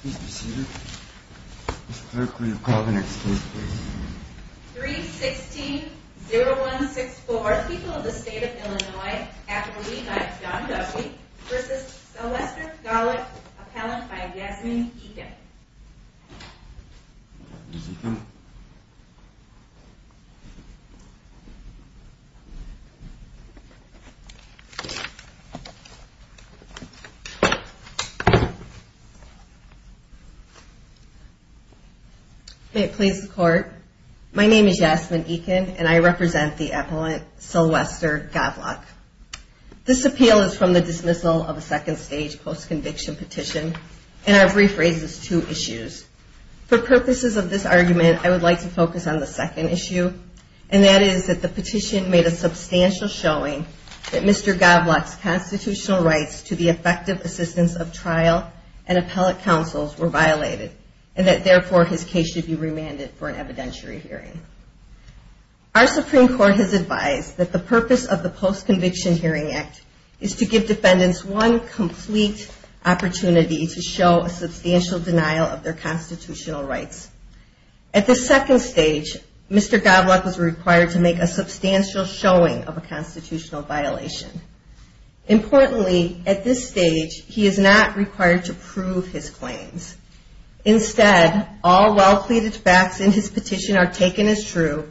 Please be seated. Mr. Clerk, will you call the next case please? 3-16-0-1-6-4. People of the State of Illinois. Appellee by John Duffy v. Celeste Gawlak. Appellant by Yasmin Eken. May it please the Court. My name is Yasmin Eken, and I represent the appellant Celeste Gawlak. This appeal is from the dismissal of a second-stage post-conviction petition, and I've rephrased this to a second-stage post-conviction petition. For purposes of this argument, I would like to focus on the second issue, and that is that the petition made a substantial showing that Mr. Gawlak's constitutional rights to the effective assistance of trial and appellate counsels were violated, and that therefore his case should be remanded for an evidentiary hearing. Our Supreme Court has advised that the purpose of the Post-Conviction Hearing Act is to give defendants one complete opportunity to show a substantial denial of their constitutional rights. At the second stage, Mr. Gawlak was required to make a substantial showing of a constitutional violation. Importantly, at this stage, he is not required to prove his claims. Instead, all well-pleaded facts in his petition are taken as true,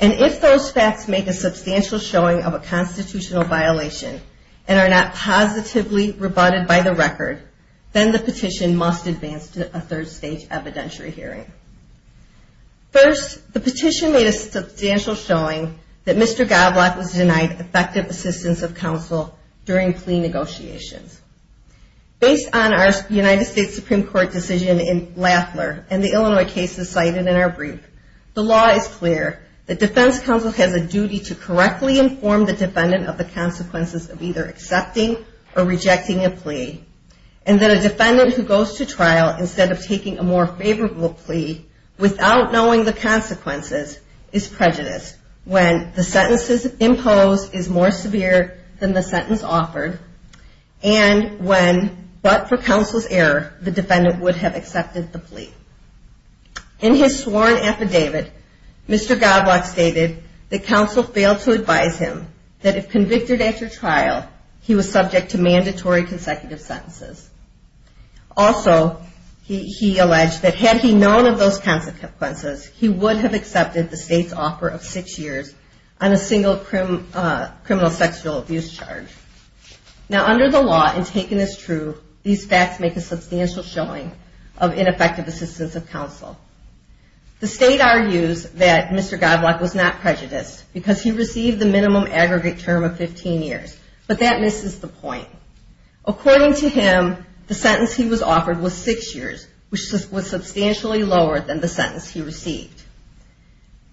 and if those facts make a substantial showing of a constitutional violation and are not positively rebutted by the record, then the petition must advance to a third-stage evidentiary hearing. First, the petition made a substantial showing that Mr. Gawlak was denied effective assistance of counsel during plea negotiations. Based on our United States Supreme Court decision in Lafler and the Illinois cases cited in our brief, the law is clear that defense counsel has a duty to correctly inform the defendant of the consequences of either accepting or rejecting a plea, and that a defendant who goes to trial instead of taking a more favorable plea without knowing the consequences is prejudiced when the sentence imposed is more severe than the sentence offered, and the defendant is not able to prove his constitutional rights. In his sworn affidavit, Mr. Gawlak stated that counsel failed to advise him that if convicted after trial, he was subject to mandatory consecutive sentences. Also, he alleged that had he known of those consequences, he would have accepted the state's offer of six years on a single criminal sexual abuse charge. Now, under the law, and taken as true, these facts make a substantial showing of ineffective assistance of counsel. The state argues that Mr. Gawlak was not prejudiced because he received the minimum aggregate term of 15 years, but that misses the point. According to him, the sentence he was offered was six years, which was substantially lower than the sentence he received.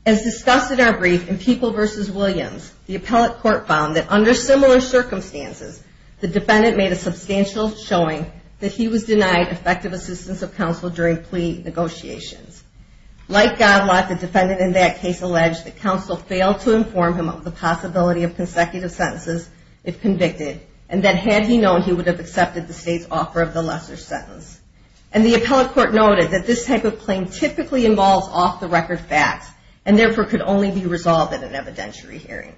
As discussed in our brief, in People v. Williams, the appellate court found that under similar circumstances, the defendant made a substantial showing that he was denied effective assistance of counsel during plea negotiations. Like Gawlak, the defendant in that case alleged that counsel failed to inform him of the possibility of consecutive sentences if convicted, and that had he known, he would have accepted the state's offer of the lesser sentence. And the appellate court noted that this type of claim typically involves off-the-record facts, and therefore could only be resolved in an evidentiary hearing.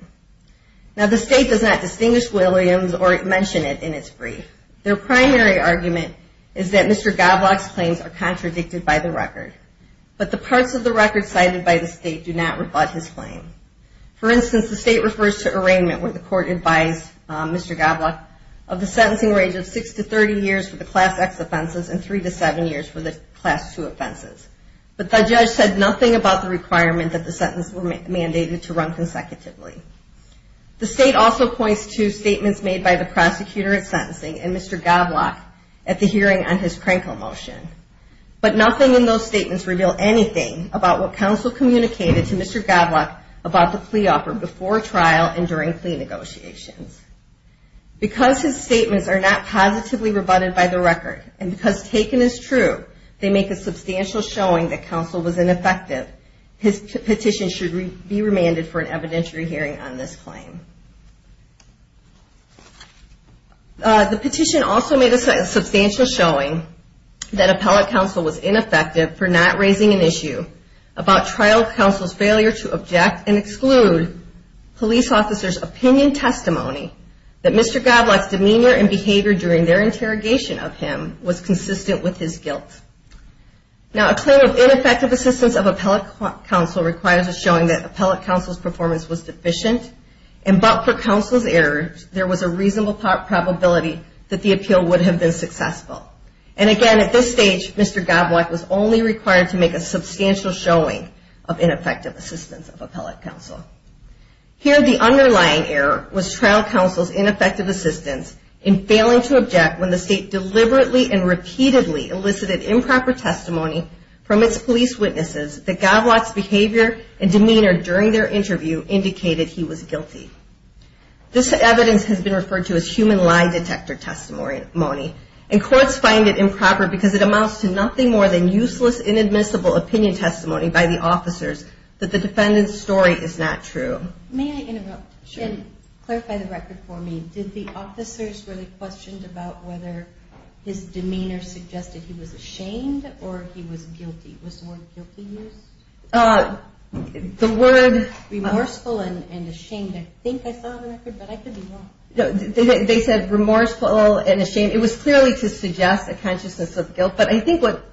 Now, the state does not distinguish Williams or mention it in its brief. Their primary argument is that Mr. Gawlak's claims are contradicted by the record, but the parts of the record cited by the state do not rebut his claim. For instance, the state refers to arraignment where the court advised Mr. Gawlak of the sentencing range of six to 30 years for the Class X offenses and three to seven years for the Class II offenses. But the judge said nothing about the requirement that the sentence were mandated to run consecutively. The state also points to statements made by the prosecutor at sentencing and Mr. Gawlak at the hearing on his Krankel motion. But nothing in those statements reveal anything about what counsel communicated to Mr. Gawlak about the plea offer before trial and during plea negotiations. Because his statements are not positively rebutted by the record, and because taken as true, they make a substantial showing that counsel was ineffective. His petition should be remanded for an evidentiary hearing on this claim. The petition also made a substantial showing that appellate counsel was ineffective for not raising an issue about trial counsel's failure to object and exclude police officers' opinion testimony that Mr. Gawlak's demeanor and behavior during their interrogation of him was consistent with his guilt. Now, a claim of ineffective assistance of appellate counsel requires a showing that appellate counsel's performance was deficient, and but for counsel's error, there was a reasonable probability that the appeal would have been successful. And again, at this stage, Mr. Gawlak was only required to make a substantial showing of ineffective assistance of appellate counsel. Here, the underlying error was trial counsel's ineffective assistance in failing to object when the state deliberately and repeatedly elicited improper testimony from its police witnesses that Gawlak's behavior and demeanor during their interview indicated he was guilty. This evidence has been referred to as human lie detector testimony, and courts find it improper because it amounts to nothing more than useless, inadmissible opinion testimony by the officers that the defendant's story is not true. May I interrupt? Sure. And clarify the record for me. Did the officers really question about whether his demeanor suggested he was ashamed or he was guilty? Was the word guilty used? The word... Remorseful and ashamed. I think I saw the record, but I could be wrong. They said remorseful and ashamed. It was clearly to suggest a consciousness of guilt, but I think what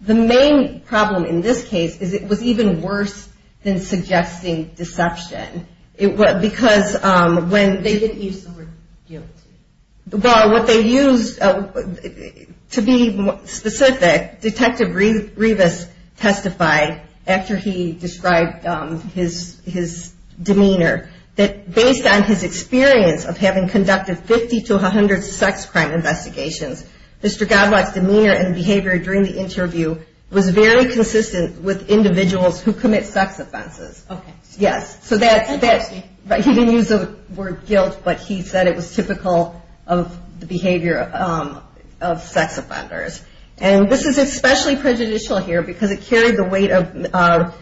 the main problem in this case is it was even worse than suggesting deception. Because when... They didn't use the word guilty. Well, what they used, to be specific, Detective Revis testified after he described his demeanor, that based on his experience of having conducted 50 to 100 sex crime investigations, Mr. Gawlak's demeanor and behavior during the interview was very consistent with individuals who commit sex offenses. Okay. Yes. He didn't use the word guilt, but he said it was typical of the behavior of sex offenders. And this is especially prejudicial here because it carried the weight of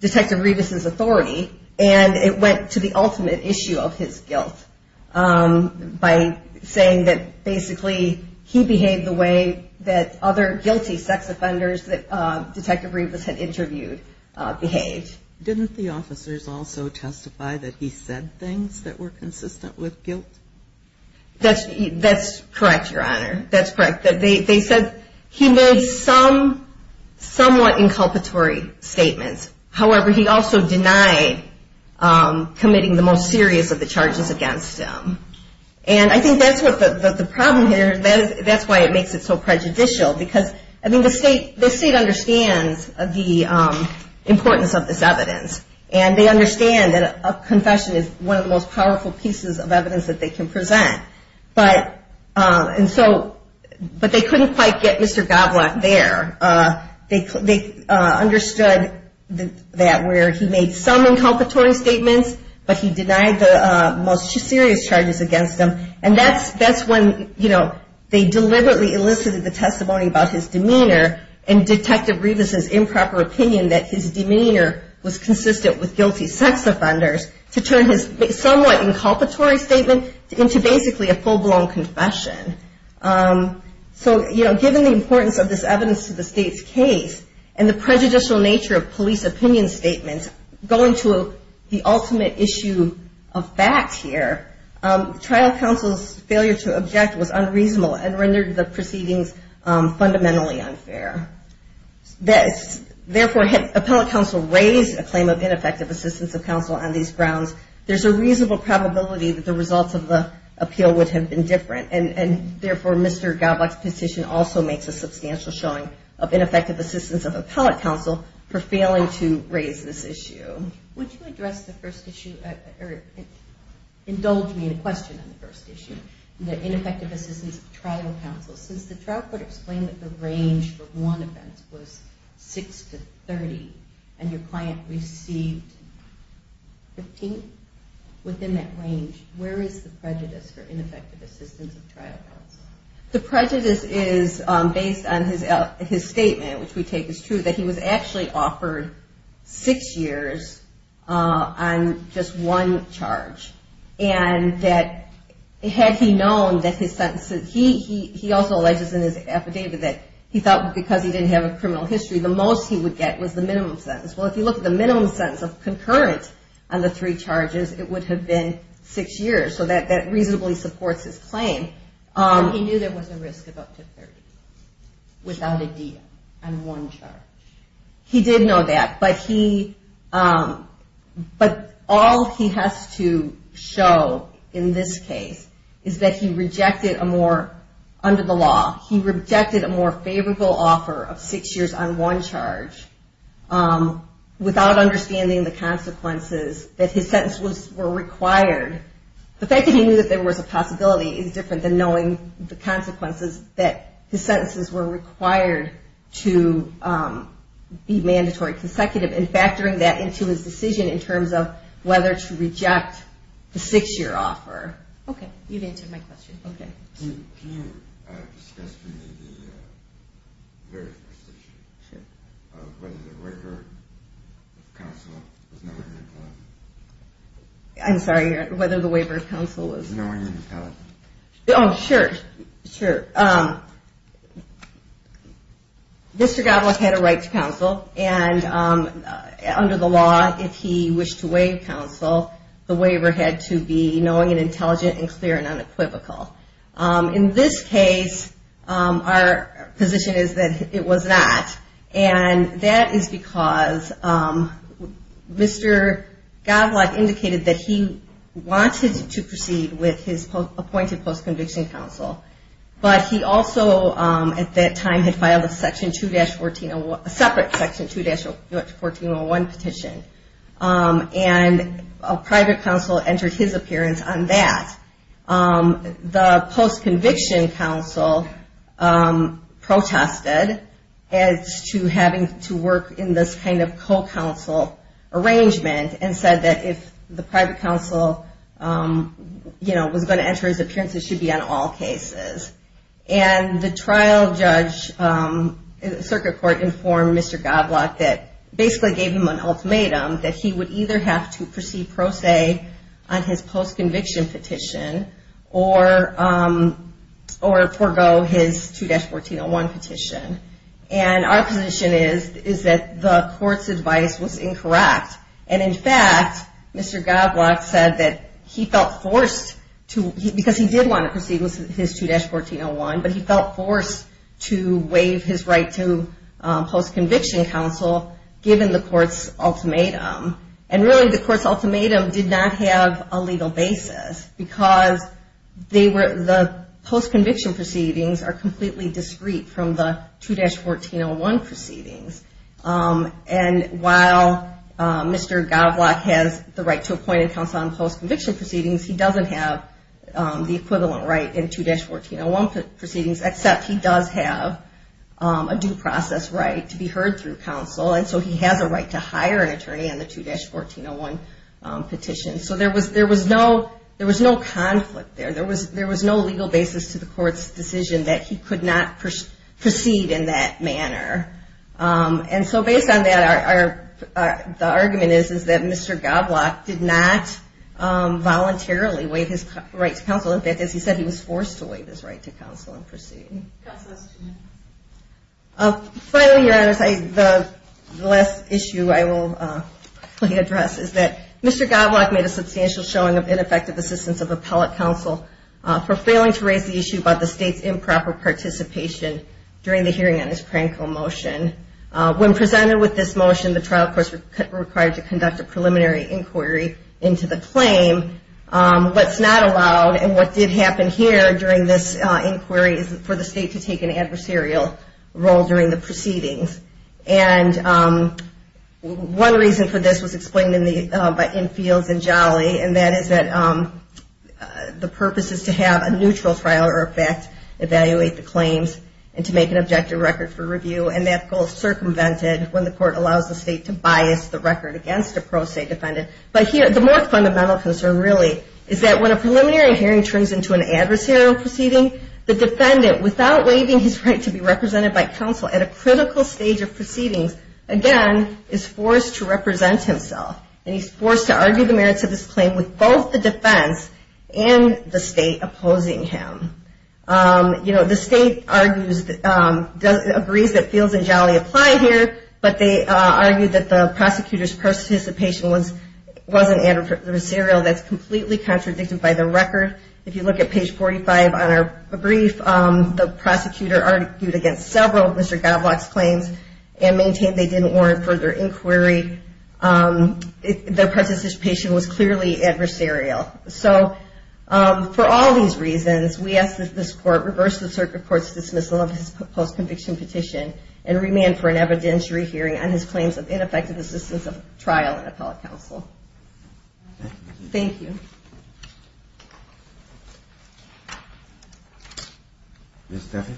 Detective Revis's authority, and it went to the ultimate issue of his guilt by saying that basically he behaved the way that other guilty sex offenders that Detective Revis had interviewed behaved. Didn't the officers also testify that he said things that were consistent with guilt? That's correct, Your Honor. That's correct. They said he made some somewhat inculpatory statements. However, he also denied committing the most serious of the charges against him. And I think that's what the problem here, that's why it makes it so prejudicial. Because, I mean, the state understands the importance of this evidence. And they understand that a confession is one of the most powerful pieces of evidence that they can present. And so, but they couldn't quite get Mr. Gawlak there. They understood that where he made some inculpatory statements, but he denied the most serious charges against him. And that's when, you know, they deliberately elicited the testimony about his demeanor and Detective Revis's improper opinion that his demeanor was consistent with guilty sex offenders to turn his somewhat inculpatory statement into basically an inculpatory statement. Basically a full-blown confession. So, you know, given the importance of this evidence to the state's case and the prejudicial nature of police opinion statements, going to the ultimate issue of fact here, trial counsel's failure to object was unreasonable and rendered the proceedings fundamentally unfair. Therefore, had appellate counsel raised a claim of ineffective assistance of counsel on these grounds, there's a reasonable probability that the results of the appeal would have been different. And therefore, Mr. Gawlak's position also makes a substantial showing of ineffective assistance of appellate counsel for failing to raise this issue. Would you address the first issue or indulge me in a question on the first issue? The ineffective assistance of trial counsel. Since the trial court explained that the range for one offense was 6 to 30 and your client received 15, within that range, where is the prejudice for ineffective assistance of trial counsel? The prejudice is based on his statement, which we take as true, that he was actually offered 6 years on just one charge. And that had he known that his sentence, he also alleges in his affidavit that he thought because he didn't have a criminal history, the most he would get was the minimum sentence. Well, if you look at the minimum sentence of concurrent on the three charges, it would have been 6 years, so that reasonably supports his claim. He knew there was a risk of up to 30 without a deal on one charge. He did know that, but all he has to show in this case is that he rejected a more, under the law, he rejected a more favorable offer of 6 years on one charge. Without understanding the consequences that his sentence was required. The fact that he knew there was a possibility is different than knowing the consequences that his sentences were required to be mandatory consecutive and factoring that into his decision in terms of whether to reject the 6 year offer. Okay, you've answered my question. Okay. Can you discuss for me the waiver of counsel? I'm sorry, whether the waiver of counsel was... Knowing and telling. Oh, sure, sure. Mr. Godlock had a right to counsel and under the law, if he wished to waive counsel, the waiver had to be knowing and intelligent and clear and unequivocal. In this case, our position is that it was not. And that is because Mr. Godlock indicated that he wanted to proceed with his appointed post-conviction counsel, but he also, at that time, had filed a separate section 2-1401 petition. And a private counsel entered his appearance on that. The post-conviction counsel protested as to having to work in this kind of co-counsel arrangement and said that if the private counsel was going to enter his appearance, it should be on all cases. And the trial judge, circuit court, informed Mr. Godlock that basically gave him an ultimatum that he would either have to proceed pro se on his post-conviction petition or forgo his 2-1401 petition. And our position is that the court's advice was incorrect. And in fact, Mr. Godlock said that he felt forced to, because he did want to proceed with his 2-1401, but he felt forced to waive his right to post-conviction counsel given the court's ultimatum. And really, the court's ultimatum did not have a legal basis, because the post-conviction proceedings are completely discreet from the 2-1401 proceedings. And while Mr. Godlock has the right to appointed counsel on post-conviction proceedings, he doesn't have the equivalent right in 2-1401 proceedings, except he does have a due process right to be heard through counsel. And so he has a right to hire an attorney on the 2-1401 petition. So there was no conflict there. There was no legal basis to the court's decision that he could not proceed in that manner. And so based on that, the argument is that Mr. Godlock did not voluntarily waive his right to counsel. In fact, as he said, he was forced to waive his right to counsel and proceed. Finally, Your Honor, the last issue I will address is that Mr. Godlock made a substantial showing of ineffective assistance of appellate counsel for failing to raise the issue about the state's improper participation during the hearing on his crankle motion. When presented with this motion, the trial court was required to conduct a preliminary inquiry into the claim. What's not allowed, and what did happen here during this inquiry for the state's improper participation, is that Mr. Godlock was not allowed to speak at the hearing on his crankle motion. He was not allowed by the state to take an adversarial role during the proceedings. And one reason for this was explained in Fields and Jolly, and that is that the purpose is to have a neutral trial, or in fact, evaluate the claims and to make an objective record for review. And that goes circumvented when the court allows the state to bias the record against a pro se defendant. But here, the more fundamental concern, really, is that when a preliminary hearing turns into an adversarial proceeding, the defendant, without waiving his right to be represented by counsel at a critical stage of proceedings, again, is forced to represent himself. And he's forced to argue the merits of his claim with both the defense and the state opposing him. The state agrees that Fields and Jolly apply here, but they argue that the prosecutor's participation wasn't adversarial. That's completely contradicted by the record. If you look at page 45 on our brief, the prosecutor argued against several of Mr. Godlock's claims and maintained they didn't warrant further inquiry. Their participation was clearly adversarial. So, for all these reasons, we ask that this court reverse the circuit court's dismissal of his post-conviction petition and remand for an evidentiary hearing on his claims of ineffective assistance of trial in appellate counsel. Thank you. Ms. Duffy?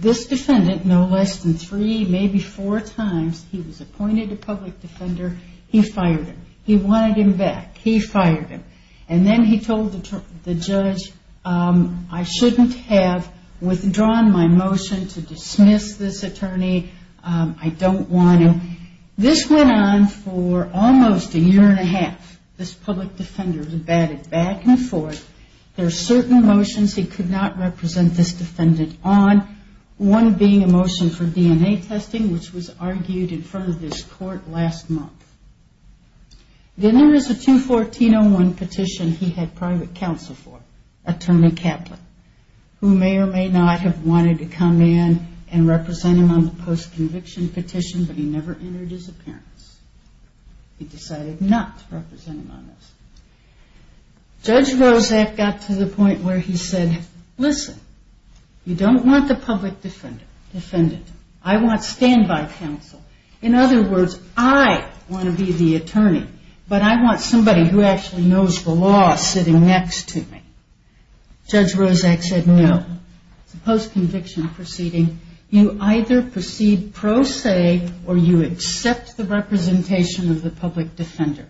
This defendant, no less than three, maybe four times, he was appointed a public defender. He fired him. He wanted him back. He fired him. And then he told the judge, I shouldn't have withdrawn my motion to dismiss this attorney. I don't want him. This went on for almost a year and a half. This public defender batted back and forth. There are certain motions he could not represent this defendant on, one being a motion for DNA testing, which was argued in front of this court last month. Then there was a 214-01 petition he had private counsel for, Attorney Kaplan, who may or may not have wanted to come in and represent him on the post-conviction petition, but he never entered his appearance. He decided not to represent him on this. Judge Roszak got to the point where he said, listen, you don't want the public defendant. I want standby counsel. In other words, I want to be the attorney, but I want somebody who actually knows the law sitting next to me. Judge Roszak said no. Post-conviction proceeding, you either proceed pro se or you accept the representation of the public defender.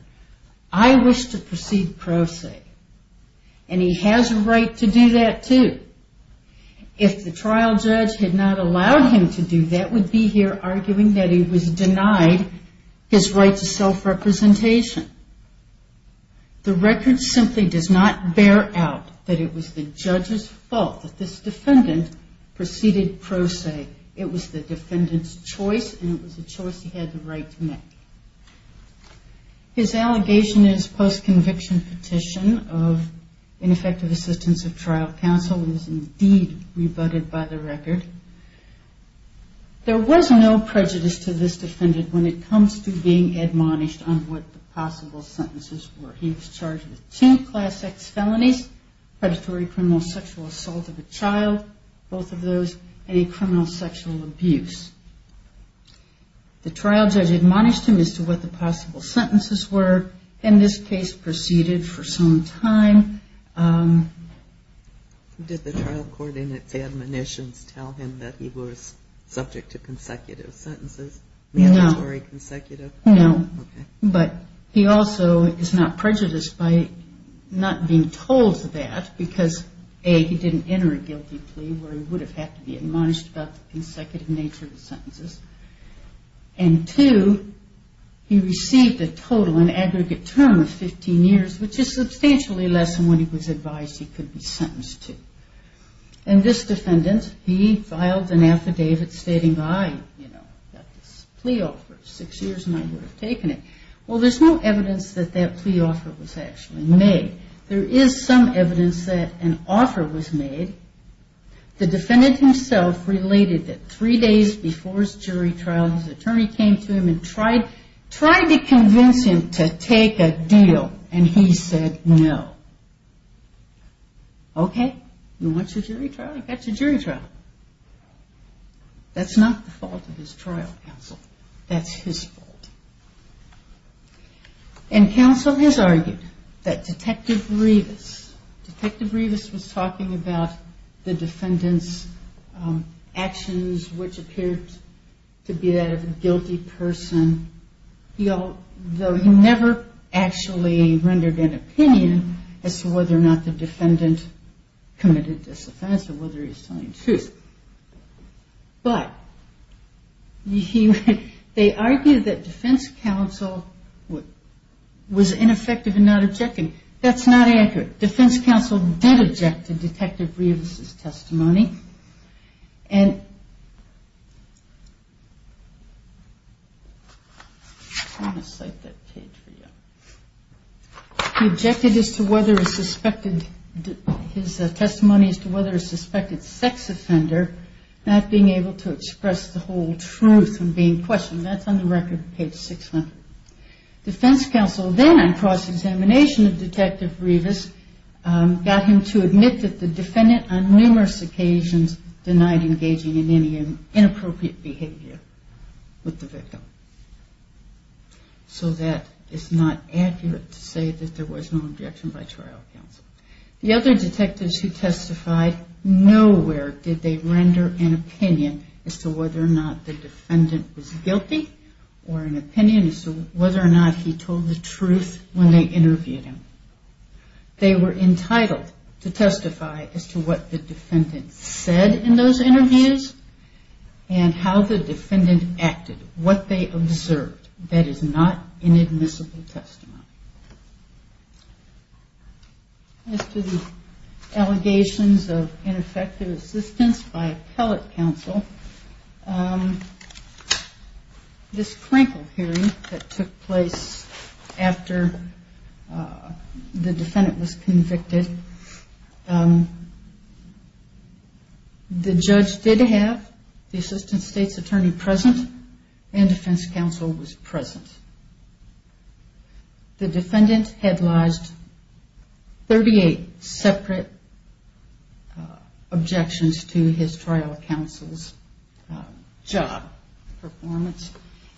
I wish to proceed pro se. And he has a right to do that, too. If the trial judge had not allowed him to do that, we'd be here arguing that he was denied his right to self-representation. The record simply does not bear out that it was the judge's fault that this defendant proceeded pro se. It was the defendant's choice, and it was a choice he had the right to make. His allegation in his post-conviction petition of ineffective assistance of trial counsel is indeed rebutted by the record. There was no prejudice to this defendant when it comes to being admonished on what the possible sentences were. He was charged with two class X felonies, predatory criminal sexual assault of a child, both of those, and a criminal sexual abuse. The trial judge admonished him as to what the possible sentences were. In this case, proceeded for some time. Did the trial court in its admonitions tell him that he was subject to consecutive sentences? No. Mandatory consecutive? No. Okay. And this defendant, he filed an affidavit stating, I, you know, got this plea offer. Six years and I would have taken it. Well, there's no evidence that that plea offer was actually made. There is some evidence that an offer was made. The defendant himself related that three days before his jury trial, his attorney came to him and tried to convince him to take a deal, and he said no. Okay. You want your jury trial? I got your jury trial. That's not the fault of his trial counsel. That's his fault. And counsel has argued that Detective Rivas, Detective Rivas was talking about the defendant's actions, which appeared to be that of a guilty person, though he never actually rendered an opinion as to whether or not the defendant committed this offense or whether he was telling the truth. But they argued that defense counsel was ineffective in not objecting. That's not accurate. Defense counsel did object to Detective Rivas' testimony. And I'm going to cite that page for you. He objected as to whether a suspected, his testimony as to whether a suspected sex offender not being able to express the whole truth and being questioned. That's on the record, page 600. Defense counsel then, on cross-examination of Detective Rivas, got him to admit that the defendant on numerous occasions denied engaging in any inappropriate behavior with the victim. So that is not accurate to say that there was no objection by trial counsel. The other detectives who testified, nowhere did they render an opinion as to whether or not the defendant was guilty or an opinion as to whether or not he told the truth when they interviewed him. They were entitled to testify as to what the defendant said in those interviews and how the defendant acted, what they observed. That is not inadmissible testimony. As to the allegations of ineffective assistance by appellate counsel, this Krinkle hearing that took place after the defendant was convicted, the judge did have the assistant state's attorney present and defense counsel was present. The defendant had lodged 38 separate objections to his trial counsel's job performance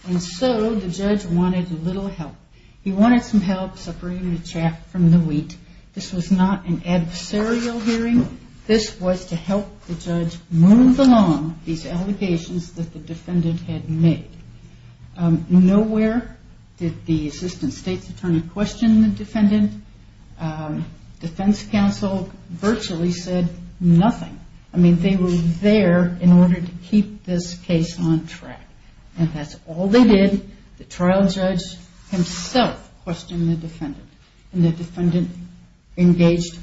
and so the judge wanted little help. He wanted some help separating the chaff from the wheat. This was not an adversarial hearing. This was to help the judge move along these allegations that the defendant had made. Nowhere did the assistant state's attorney question the defendant. Defense counsel virtually said nothing. I mean, they were there in order to keep this case on track and that's all they did. The trial judge himself questioned the defendant and the defendant engaged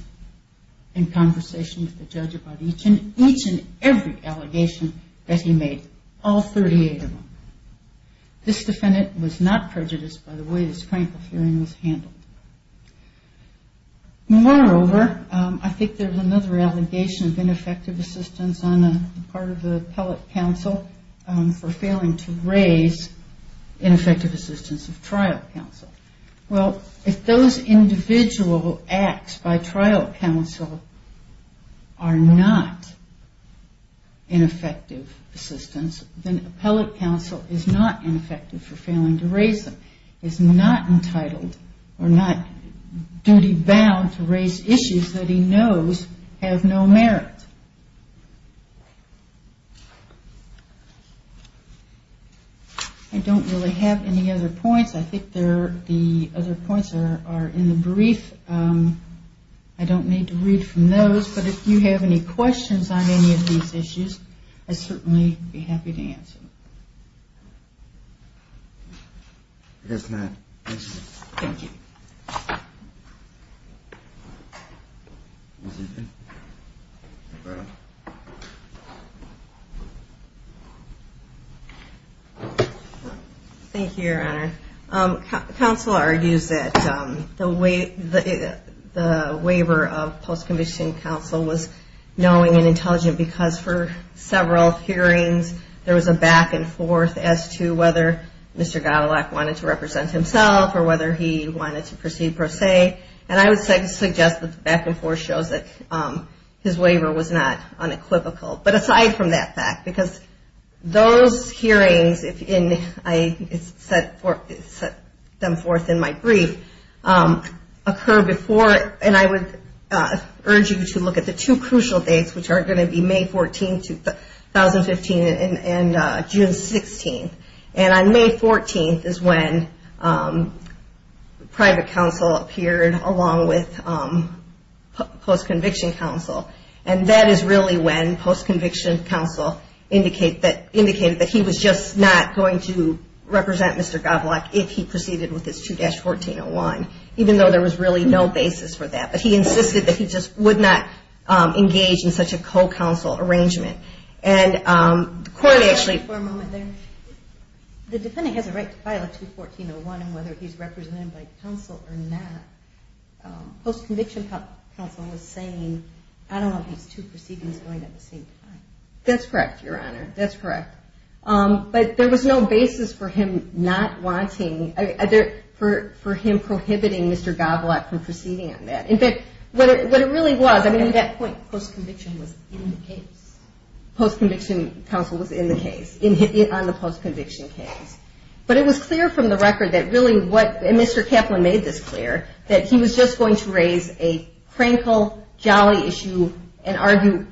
in conversation with the judge about each and every allegation that he made, all 38 of them. This defendant was not prejudiced by the way this Krinkle hearing was handled. Moreover, I think there's another allegation of ineffective assistance on the part of the appellate counsel for failing to raise ineffective assistance of trial counsel. Well, if those individual acts by trial counsel are not ineffective assistance, then appellate counsel is not ineffective for failing to raise them, is not entitled or not duty bound to raise issues that he knows have no merit. I don't really have any other points. I think the other points are in the brief. I don't need to read from those, but if you have any questions on any of these issues, I'd certainly be happy to answer. Thank you. Thank you, Your Honor. Counsel argues that the waiver of post-conviction counsel was knowing and intelligent because for several hearings, there was a back and forth as to whether Mr. Godelock wanted to represent himself or whether he wanted to proceed per se. And I would suggest that the back and forth shows that his waiver was not unequivocal. But aside from that fact, because those hearings, if I set them forth in my brief, occur before, and I would urge you to look at the two crucial dates, which are going to be May 14th, 2015, and June 16th. And on May 14th is when private counsel appeared along with post-conviction counsel. And that is really when post-conviction counsel indicated that he was just not going to represent Mr. Godelock if he proceeded with his 2-1401, even though there was really no basis for that. But he insisted that he just would not engage in such a co-counsel arrangement. And the court actually... Can I interrupt you for a moment there? The defendant has a right to file a 2-1401 on whether he's represented by counsel or not. Post-conviction counsel was saying, I don't want these two proceedings going at the same time. That's correct, Your Honor. That's correct. But there was no basis for him not wanting, for him prohibiting Mr. Godelock from proceeding on that. In fact, what it really was, I mean... At that point, post-conviction was in the case. Post-conviction counsel was in the case, on the post-conviction case. But it was clear from the record that really what, and Mr. Kaplan made this clear, that he was just going to raise a crankle, jolly issue and argue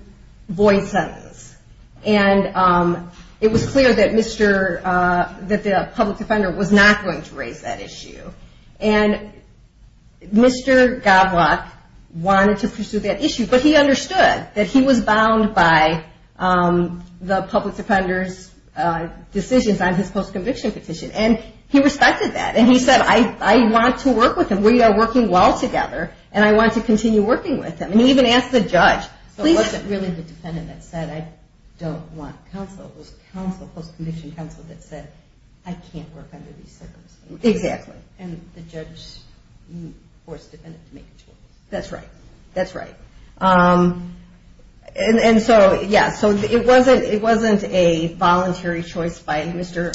void sentence. And it was clear that the public defender was not going to raise that issue. And Mr. Godelock wanted to pursue that issue. But he understood that he was bound by the public defender's decisions on his post-conviction petition. And he respected that. And he said, I want to work with him. We are working well together, and I want to continue working with him. And he even asked the judge, please... I don't want counsel. It was counsel, post-conviction counsel, that said, I can't work under these circumstances. Exactly. And the judge forced the defendant to make a choice. That's right. That's right. And so, yeah, so it wasn't a voluntary choice by Mr.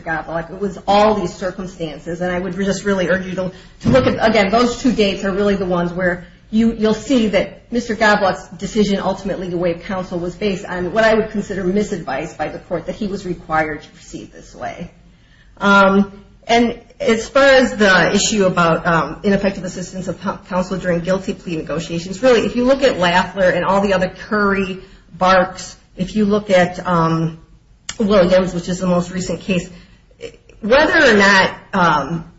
Godelock. It was all these circumstances. And I would just really urge you to look at, again, those two dates are really the ones where you'll see that Mr. Godelock's decision ultimately to waive counsel was based on what I would consider misadvice by the court, that he was required to proceed this way. And as far as the issue about ineffective assistance of counsel during guilty plea negotiations, really, if you look at Laffler and all the other Curry, Barks, if you look at Lilliams, which is the most recent case, whether or not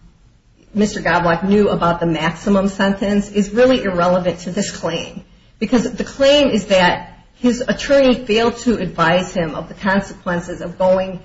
Mr. Godelock knew about the maximum sentence is really irrelevant to this claim. Because the claim is that his attorney failed to advise him of the consequences of going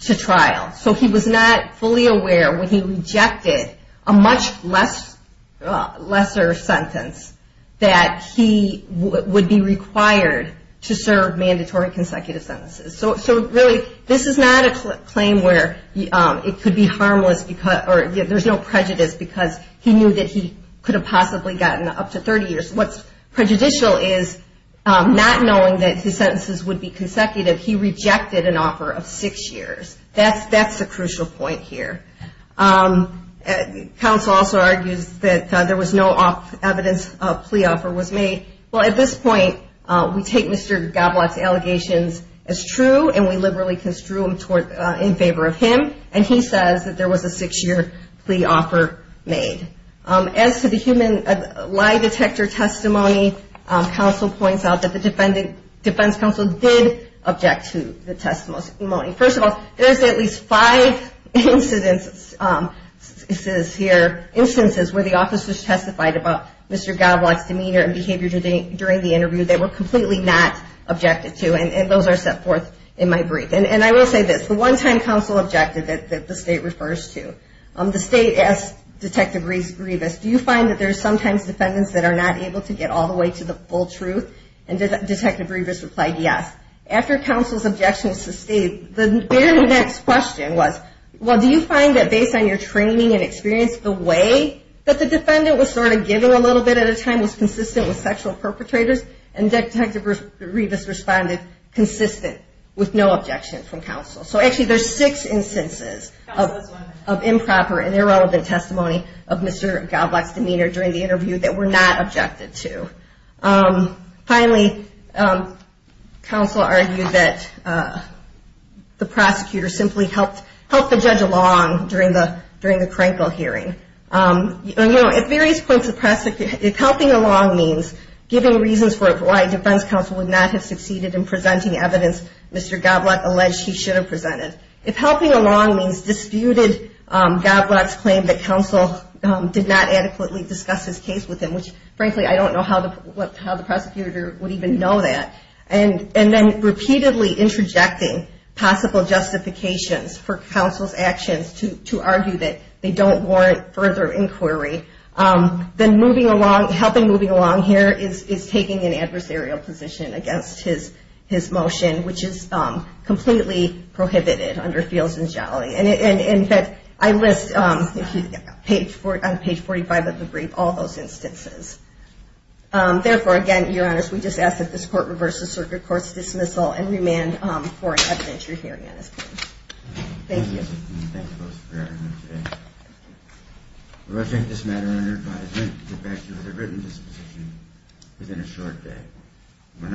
to trial. So he was not fully aware when he rejected a much lesser sentence, that he would be required to serve mandatory consecutive sentences. So really, this is not a claim where it could be harmless, or there's no prejudice because he knew that he could have possibly gotten up to 30 years. What's prejudicial is not knowing that his sentences would be consecutive. He rejected an offer of six years. That's the crucial point here. Counsel also argues that there was no evidence a plea offer was made. Well, at this point, we take Mr. Godelock's allegations as true, and we liberally construe them in favor of him. And he says that there was a six-year plea offer made. As to the human lie detector testimony, counsel points out that the defense counsel did object to the testimony. First of all, there's at least five instances here, instances where the officers testified about Mr. Godelock's demeanor and behavior during the interview they were completely not objected to, and those are set forth in my brief. And I will say this, the one time counsel objected that the state refers to, the state asked Detective Revis, do you find that there are sometimes defendants that are not able to get all the way to the full truth? And Detective Revis replied yes. After counsel's objection was sustained, the very next question was, well, do you find that based on your training and experience, the way that the defendant was sort of giving a little bit at a time was consistent with sexual perpetrators? And Detective Revis responded consistent with no objection from counsel. So actually there's six instances of improper and irrelevant testimony of Mr. Godelock's demeanor during the interview that were not objected to. Finally, counsel argued that the prosecutor simply helped the judge along during the Krenkel hearing. You know, at various points, if helping along means giving reasons for why defense counsel would not have succeeded in presenting evidence Mr. Godelock alleged he should have presented, if helping along means disputed Godelock's claim that counsel did not adequately discuss his case with him, which frankly I don't know how the prosecutor would even know that, and then repeatedly interjecting possible justifications for counsel's actions to argue that they don't warrant further inquiry, then helping moving along here is taking an adversarial position against his motion, which is completely prohibited under Fields and Jolly. And in fact, I list on page 45 of the brief all those instances. Therefore, again, Your Honor, we just ask that this court reverse the circuit court's dismissal and remand for an evidentiary hearing on this case. Thank you. Thank you both for being here today. We will take this matter under advisory to get back to you with a written disposition within a short day. We will now take a short recess.